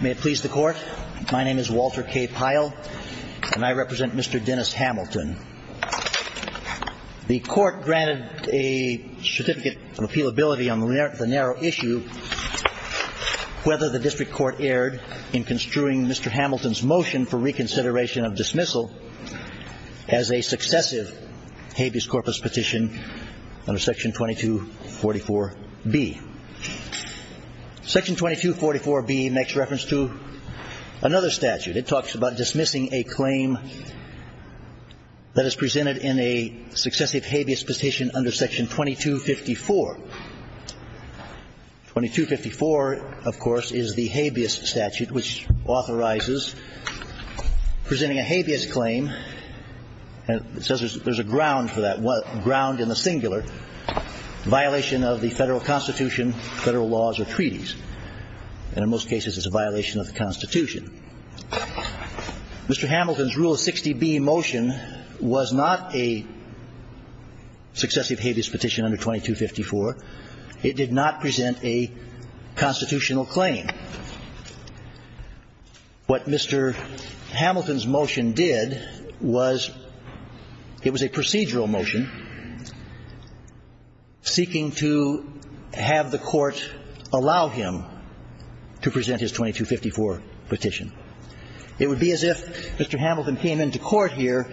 May it please the Court, my name is Walter K. Pyle and I represent Mr. Dennis Hamilton. The Court granted a certificate of appealability on the narrow issue whether the District Court erred in construing Mr. Hamilton's motion for reconsideration of dismissal as a successive habeas corpus petition under Section 2244B. Section 2244B makes reference to another statute. It talks about dismissing a claim that is presented in a successive habeas petition under Section 2254. 2254, of course, is the habeas statute which authorizes presenting a habeas claim and it says there's a ground for that ground in the singular, violation of the federal constitution, federal laws or treaties. And in most cases it's a violation of the Constitution. Mr. Hamilton's Rule of 60B motion was not a successive habeas petition under 2254. It did not present a single motion seeking to have the Court allow him to present his 2254 petition. It would be as if Mr. Hamilton came into Court here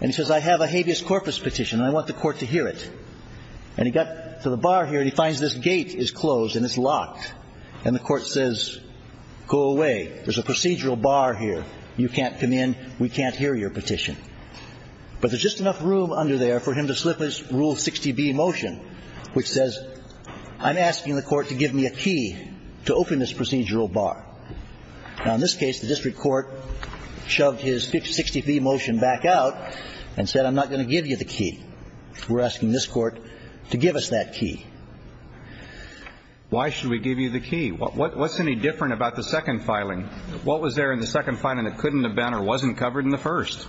and he says I have a habeas corpus petition and I want the Court to hear it. And he got to the bar here and he finds this gate is closed and it's locked and the Court says go away. There's a procedural bar here. You know, there's just enough room under there for him to slip his Rule 60B motion which says I'm asking the Court to give me a key to open this procedural bar. Now, in this case, the district court shoved his 60B motion back out and said I'm not going to give you the key. We're asking this Court to give us that key. Why should we give you the key? What's any different about the second filing? What was there in the second filing that couldn't have been or wasn't covered in the first?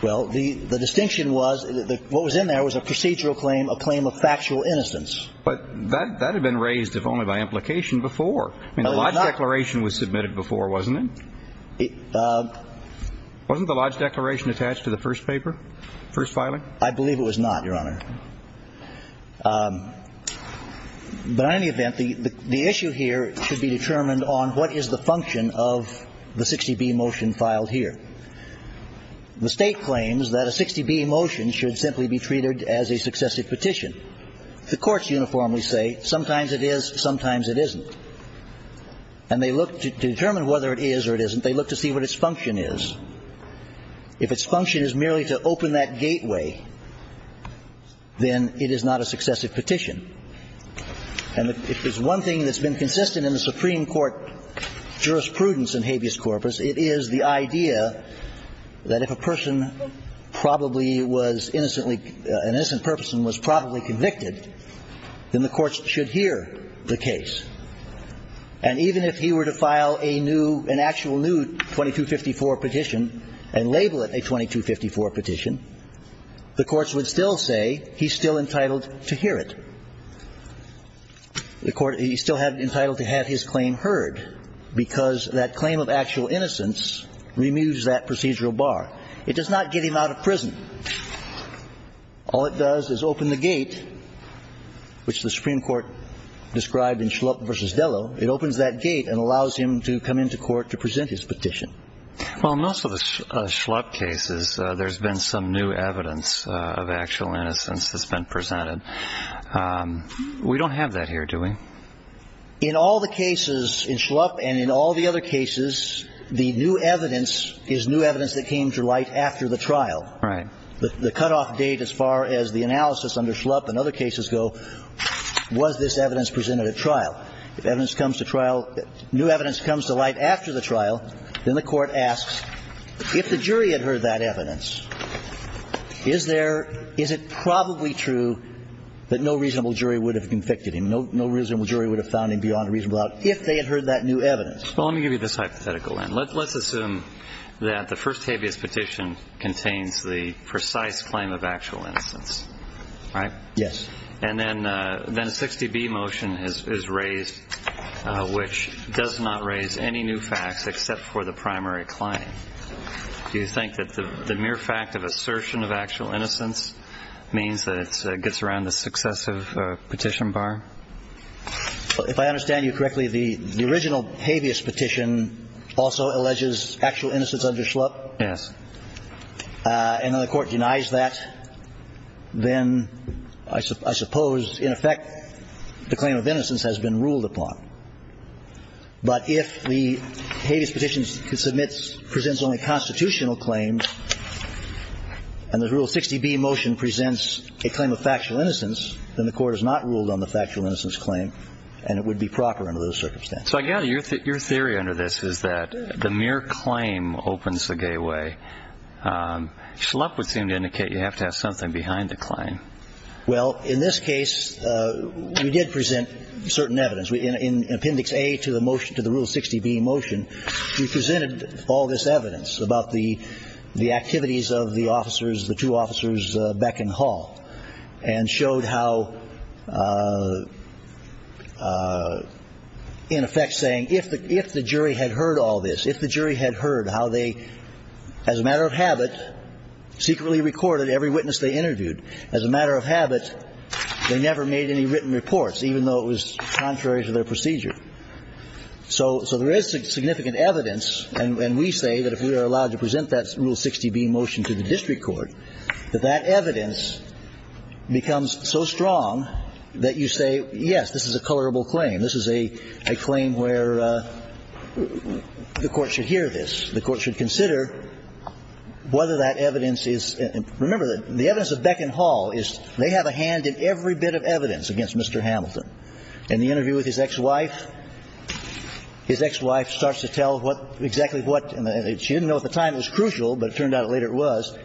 Well, the distinction was what was in there was a procedural claim, a claim of factual innocence. But that had been raised if only by implication before. I mean, the Lodge declaration was submitted before, wasn't it? Wasn't the Lodge declaration attached to the first paper, first filing? I believe it was not, Your Honor. But in any event, the issue here should be determined on what is the function of the 60B motion filed here. The State claims that a 60B motion should simply be treated as a successive petition. The courts uniformly say sometimes it is, sometimes it isn't. And they look to determine whether it is or it isn't. They look to see what its function is. If its function is merely to open that gateway, then it is not a successive petition. And if there's one thing that's been consistent in the Supreme Court jurisprudence in habeas corpus, it is the idea that if a person probably was innocently, an innocent person was probably convicted, then the courts should hear the case. And even if he were to file a new, an actual new 2254 petition and label it a 2254 petition, the courts would still say he's still entitled to hear it. The court, he's still entitled to have his claim heard, because that claim of actual innocence removes that procedural bar. It does not get him out of prison. All it does is open the gate, which the Supreme Court described in Schlupp v. Dello. It opens that gate and allows him to come into court to present his petition. Well, in most of the Schlupp cases, there's been some new evidence of actual innocence that's been presented. We don't have that here, do we? In all the cases in Schlupp and in all the other cases, the new evidence is new evidence that came to light after the trial. Right. The cutoff date as far as the analysis under Schlupp and other cases go was this evidence presented at trial. If evidence comes to trial, new evidence comes to light after the trial, then the court asks, if the jury had heard that evidence, is there, is it probably true that no reasonable jury would have convicted him? No reasonable jury would have found him beyond a reasonable doubt if they had heard that new evidence? Well, let me give you this hypothetical then. Let's assume that the first habeas petition contains the precise claim of actual innocence, right? Yes. And then a 60-B motion is raised, which does not raise any new facts except for the primary claim. Do you think that the mere fact of assertion of actual innocence means that it gets around the successive petition bar? If I understand you correctly, the original habeas petition also alleges actual innocence under Schlupp? Yes. And then the court denies that, then I suppose, in effect, the claim of innocence has been ruled upon. But if the habeas petition presents only constitutional claims, and the Rule 60-B motion presents a claim of factual innocence, then the court has not ruled on the factual innocence claim, and it would be proper under those circumstances. So I gather your theory under this is that the mere claim opens the gateway. Schlupp would seem to indicate you have to have something behind the claim. Well, in this case, we did present certain evidence. In Appendix A to the Rule 60-B motion, we presented all this evidence about the activities of the officers, the two officers Beck and Hall, and showed how, in effect, saying, if the jury had heard all this, if the jury had heard how they, as a matter of habit, secretly recorded every witness they interviewed, as a matter of habit, they never made any written reports, even though it was contrary to their procedure. So there is significant evidence, and we say that if we are allowed to present that Rule 60-B motion to the district court, that that evidence becomes so strong that you say, yes, this is a colorable claim. This is a claim where the court should hear this. The court should consider whether that evidence is – remember, the evidence of Beck and Hall is they have a hand in every bit of evidence against Mr. Hamilton. In the interview with his ex-wife, his ex-wife starts to tell what – exactly what – and she didn't know at the time it was crucial, but it turned out later it was.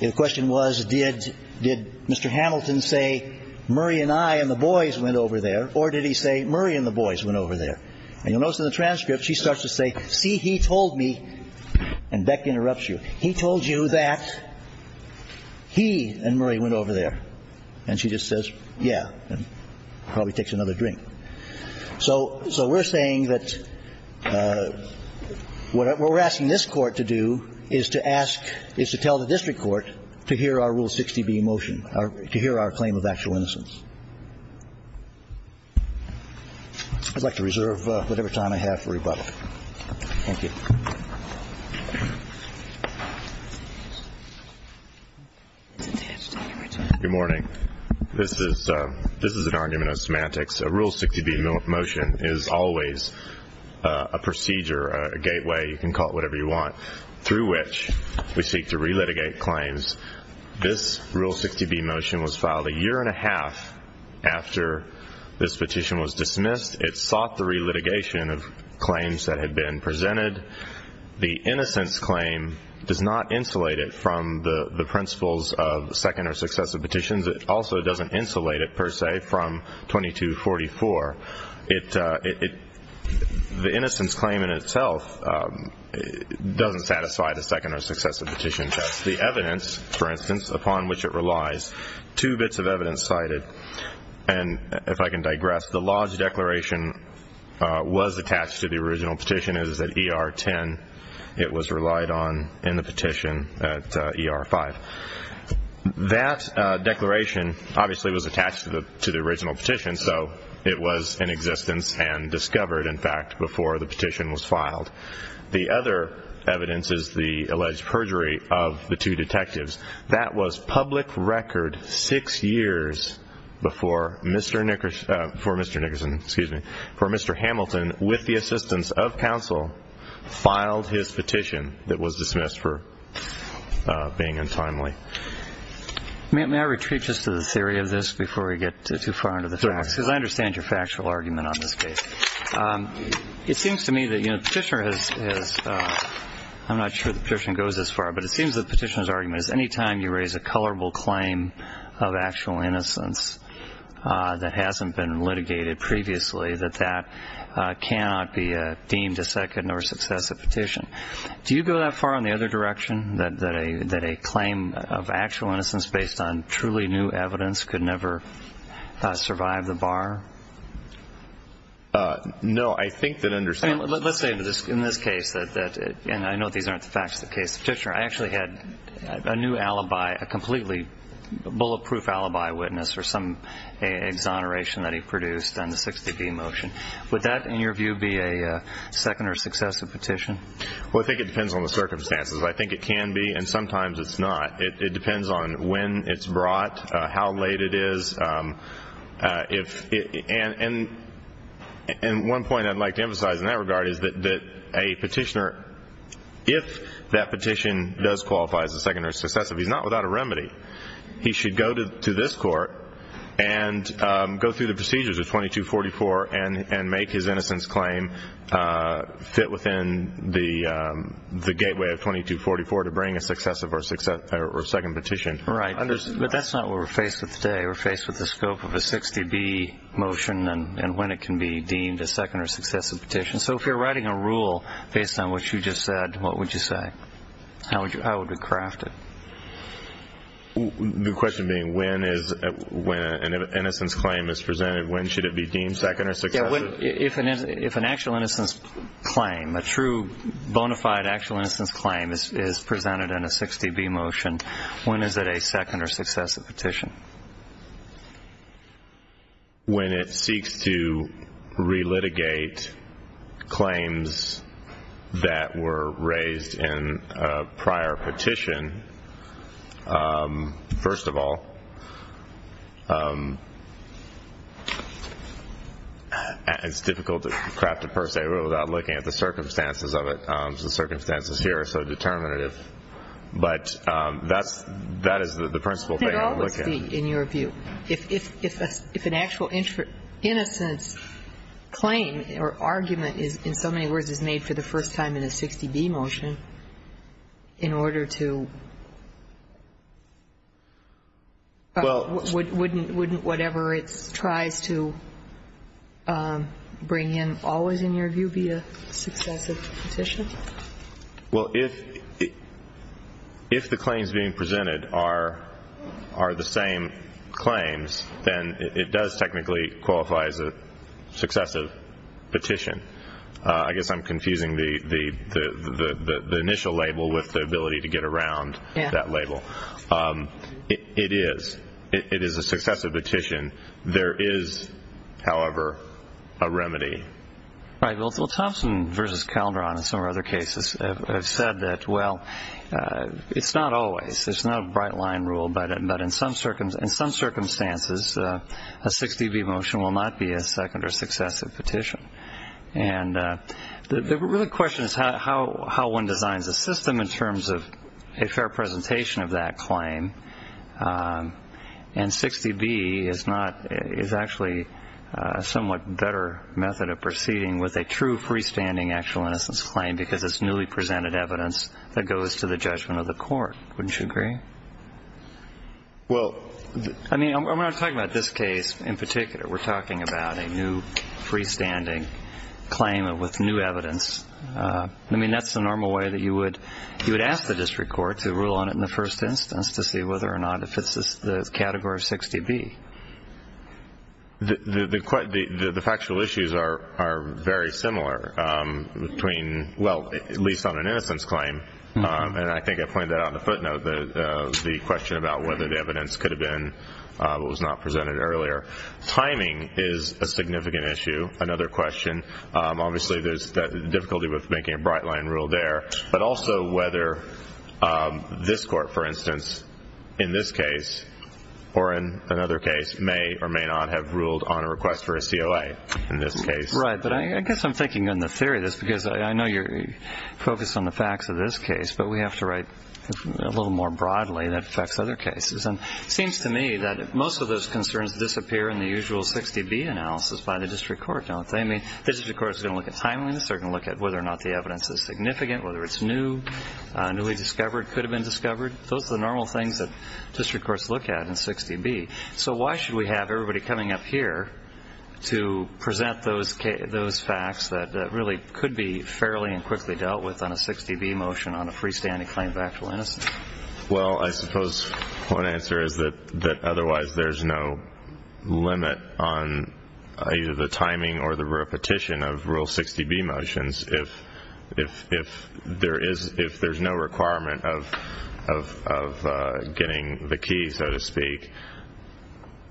The question was, did Mr. Hamilton say, Murray and I and the boys went over there, or did he say, Murray and the boys went over there? And you'll notice in the transcript, she starts to say, see, he told me – and Beck interrupts you – he told you that he and Murray went over there. And she just says, yeah, and probably takes another drink. So we're saying that what we're asking this court to do is to ask – is to tell the district court to hear our Rule 60-B motion, to hear our claim of actual innocence. I'd like to reserve whatever time I have for rebuttal. Thank you. Good morning. This is – this is an argument of semantics. A Rule 60-B motion is always a procedure, a gateway – you can call it whatever you want – through which we seek to relitigate claims. This Rule 60-B motion was filed a year and a half after this petition was dismissed. It sought the relitigation of claims that had been presented. The innocence claim does not insulate it from the principles of second or successive petitions. It also doesn't insulate it, per se, from 2244. The innocence claim in itself doesn't satisfy the second or successive petitions. The evidence, for instance, upon which it relies, two bits of evidence cited – and if I can digress, the Lodge Declaration was attached to the original petition. It was at ER 10. It was relied on in the petition at ER 5. That declaration obviously was attached to the original petition, so it was in existence and discovered, in fact, before the petition was filed. The other evidence is the alleged perjury of the two years before Mr. Nickerson – for Mr. Nickerson, excuse me – for Mr. Hamilton, with the assistance of counsel, filed his petition that was dismissed for being untimely. May I retreat just to the theory of this before we get too far into the facts, because I understand your factual argument on this case. It seems to me that the petitioner has – I'm not sure the petitioner goes this far, but it seems the petitioner's argument is any time you raise a colorable claim of actual innocence that hasn't been litigated previously, that that cannot be deemed a second or successive petition. Do you go that far in the other direction, that a claim of actual innocence based on truly new evidence could never survive the bar? No, I think that – Let's say in this case – and I know these aren't the facts of the case – the petitioner actually had a new alibi, a completely bulletproof alibi witness for some exoneration that he produced on the 60B motion. Would that, in your view, be a second or successive petition? Well, I think it depends on the circumstances. I think it can be, and sometimes it's not. It depends on when it's brought, how late it is. And one point I'd like to emphasize in that regard is that a petitioner, if that petition does qualify as a second or successive, he's not without a remedy. He should go to this Court and go through the procedures of 2244 and make his innocence claim fit within the gateway of 2244 to bring a successive or second petition. Right. But that's not what we're faced with today. We're faced with the scope of So if you're writing a rule based on what you just said, what would you say? How would it be crafted? The question being, when an innocence claim is presented, when should it be deemed second or successive? Yeah, if an actual innocence claim, a true, bona fide actual innocence claim is presented in a 60B motion, when is it a second or successive petition? When it seeks to re-litigate claims that were raised in a prior petition, first of all, it's difficult to craft a per se rule without looking at the circumstances of it. The circumstances here are so determinative. But that is the principal thing I'm looking at. It could always be, in your view. If an actual innocence claim or argument, in so many words, is made for the first time in a 60B motion, in order to – wouldn't whatever it tries to bring in always, in your view, be a successive petition? If the claims being presented are the same claims, then it does technically qualify as a successive petition. I guess I'm confusing the initial label with the ability to get is, however, a remedy. Right. Well, Thompson versus Calderon and some other cases have said that, well, it's not always. It's not a bright line rule. But in some circumstances, a 60B motion will not be a second or successive petition. And the real question is how one designs a system in terms of a fair presentation of that claim. And 60B is not – is actually a somewhat better method of proceeding with a true freestanding actual innocence claim because it's newly presented evidence that goes to the judgment of the court. Wouldn't you agree? Well – I mean, I'm not talking about this case in particular. We're talking about a new freestanding claim with new evidence. I mean, that's the normal way that you would – you would rule on it in the first instance to see whether or not it fits the category 60B. The factual issues are very similar between – well, at least on an innocence claim. And I think I pointed that out on the footnote, the question about whether the evidence could have been what was not presented earlier. Timing is a significant issue, another question. Obviously, there's the difficulty with making a bright-line rule there, but also whether this court, for instance, in this case or in another case may or may not have ruled on a request for a COA in this case. Right. But I guess I'm thinking in the theory of this because I know you're focused on the facts of this case, but we have to write a little more broadly that affects other cases. And it seems to me that most of those concerns disappear in the usual 60B analysis by the district court, don't they? I mean, the district court is going to look at timeliness. They're going to look at whether or not the evidence is significant, whether it's new, newly discovered, could have been discovered. Those are the normal things that district courts look at in 60B. So why should we have everybody coming up here to present those facts that really could be fairly and quickly dealt with on a 60B motion on a freestanding claim of actual innocence? Well, I suppose one answer is that otherwise there's no limit on either the timing or the repetition of rule 60B motions if there's no requirement of getting the key, so to speak.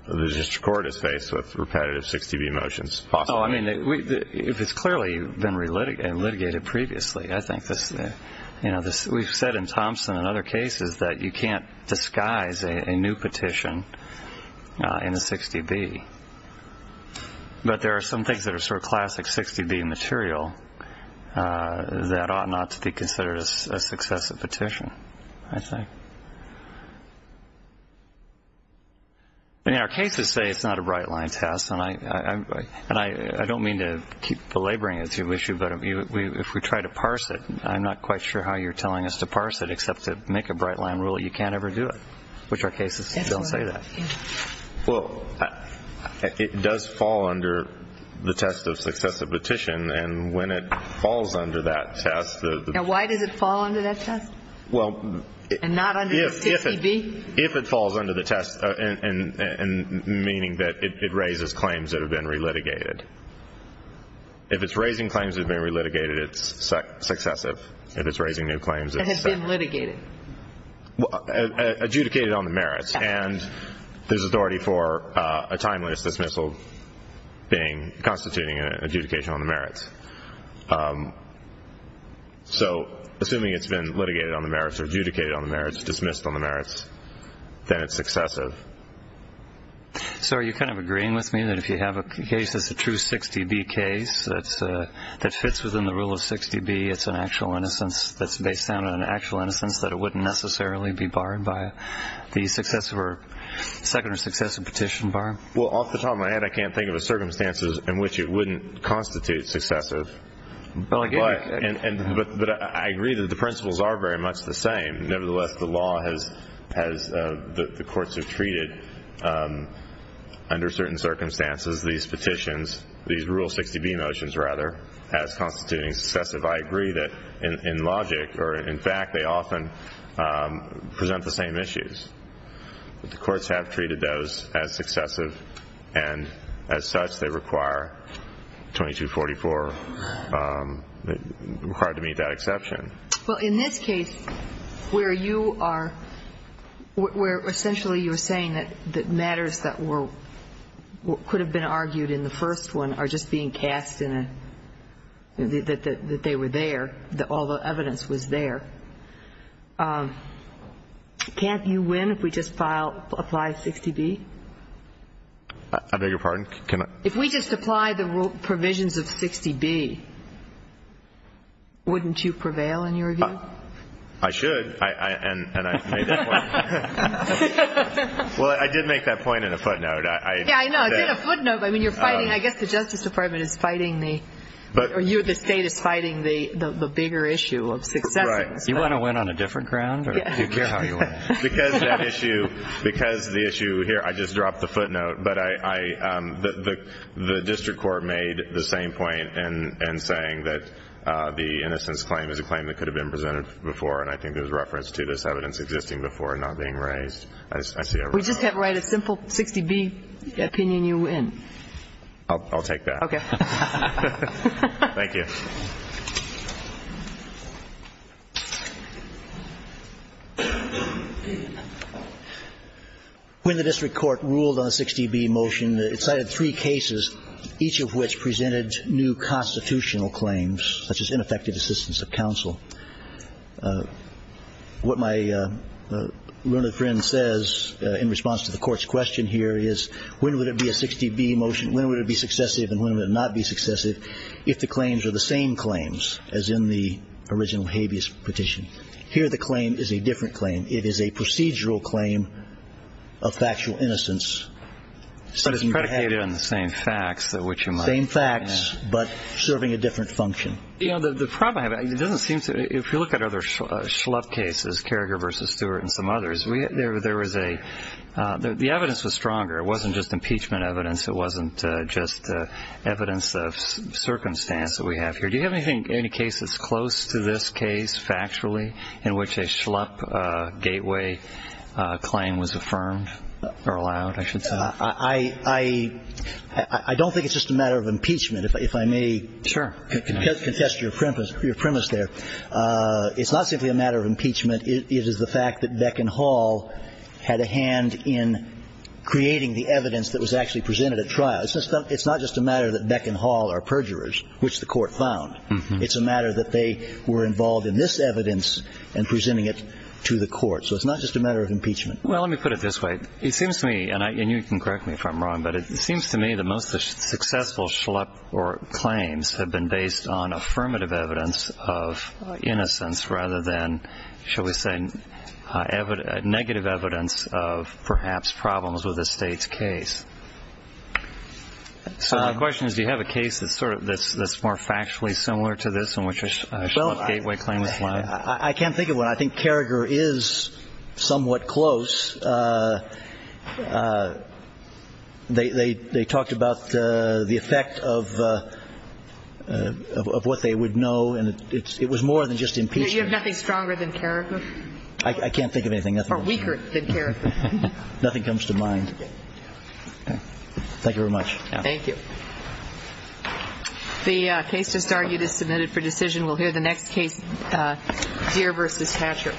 The district court is faced with repetitive 60B motions, possibly. Oh, I mean, if it's clearly been litigated previously, I think this, you know, we've said in Thompson and other cases that you can't disguise a new petition in a 60B. But there are some things that are sort of classic 60B material that ought not to be considered a successive petition, I think. I mean, our cases say it's not a bright-line test, and I don't mean to keep belaboring it's an issue, but if we try to parse it, I'm not quite sure how you're telling us to parse it except to make a bright-line rule that you can't ever do it, which our cases don't say that. Well, it does fall under the test of successive petition, and when it falls under that test the... Now, why does it fall under that test? Well... And not under the 60B? If it falls under the test, and meaning that it raises claims that have been re-litigated. If it's raising claims that have been re-litigated, it's successive. If it's raising new claims, it's... It has been litigated. Well, adjudicated on the merits, and there's authority for a timeless dismissal being... Constituting an adjudication on the merits. So assuming it's been litigated on the merits or adjudicated on the merits, dismissed on the merits, then it's successive. So are you kind of agreeing with me that if you have a case that's a true 60B case that fits within the rule of 60B, it's an actual innocence that's based on an actual innocence that it wouldn't necessarily be barred by the successive or second or successive petition bar? Well, off the top of my head, I can't think of a circumstance in which it wouldn't constitute successive. But I agree that the principles are very much the same. Nevertheless, the law has... The courts have treated, under certain circumstances, these petitions, these rule 60B motions, rather, as constituting successive. I agree that, in logic, or in fact, they often present the same issues. But the courts have treated those as successive, and as such, they require 2244, required to meet that exception. Well, in this case, where you are... Where essentially you're saying that matters that could have been argued in the first one are just being cast in a... That they were there, that all the evidence was there, can't you win if we just apply 60B? I beg your pardon, can I... If we just apply the provisions of 60B, wouldn't you prevail in your view? I should, and I made that point. Well, I did make that point in a footnote. Yeah, I know. You did a footnote. I mean, you're fighting... I guess the Justice Department is fighting the... Or you, the State, is fighting the bigger issue of successive. Right. You want to win on a different ground, or do you care how you win? Because the issue... Here, I just dropped the footnote, but the district court made the same point in saying that the innocence claim is a claim that could have been presented before, and I think there was reference to this evidence existing before and not being raised. I see everyone... We just can't write a simple 60B opinion you win. I'll take that. Okay. Thank you. When the district court ruled on a 60B motion, it cited three cases, each of which presented new constitutional claims, such as ineffective assistance of counsel. What my learned friend says in response to the court's question here is, when would it be a 60B motion? When would it be successive, and when would it not be successive, if the claims are the same claims as in the original habeas petition? Here the claim is a different claim. It is a procedural claim of factual innocence. But it's predicated on the same facts, which you might... Same facts, but serving a different function. You know, the problem I have, it doesn't seem to... If you look at other Schlupp cases, Carriger v. Stewart and some others, there was a... The evidence was stronger. It wasn't just impeachment evidence. It wasn't just evidence of circumstance that we have here. Do you have anything, any cases close to this case, factually, in which a Schlupp gateway claim was affirmed or allowed, I should say? I don't think it's just a matter of impeachment, if I may... Sure. ...contest your premise there. It's not simply a matter of impeachment. It is the fact that Beck and Hall had a hand in creating the evidence that was actually presented at trial. It's not just a matter that Beck and Hall are perjurers, which the court found. It's a matter that they were involved in this evidence and presenting it to the court. So it's not just a matter of impeachment. Well, let me put it this way. It seems to me, and you can correct me if I'm wrong, but it seems to me that most of the successful Schlupp claims have been based on affirmative evidence of innocence rather than, shall we say, negative evidence of, perhaps, problems with the state's case. So my question is, do you have a case that's more factually similar to this, in which a Schlupp gateway claim was allowed? Well, I can't think of one. I think Carragher is somewhat close. They talked about the effect of what they would know, and it was more than just impeachment. You have nothing stronger than Carragher? I can't think of anything. Or weaker than Carragher. Nothing comes to mind. Thank you very much. Thank you. The case just argued is submitted for decision. We'll hear the next case, Deere v. Hatcher.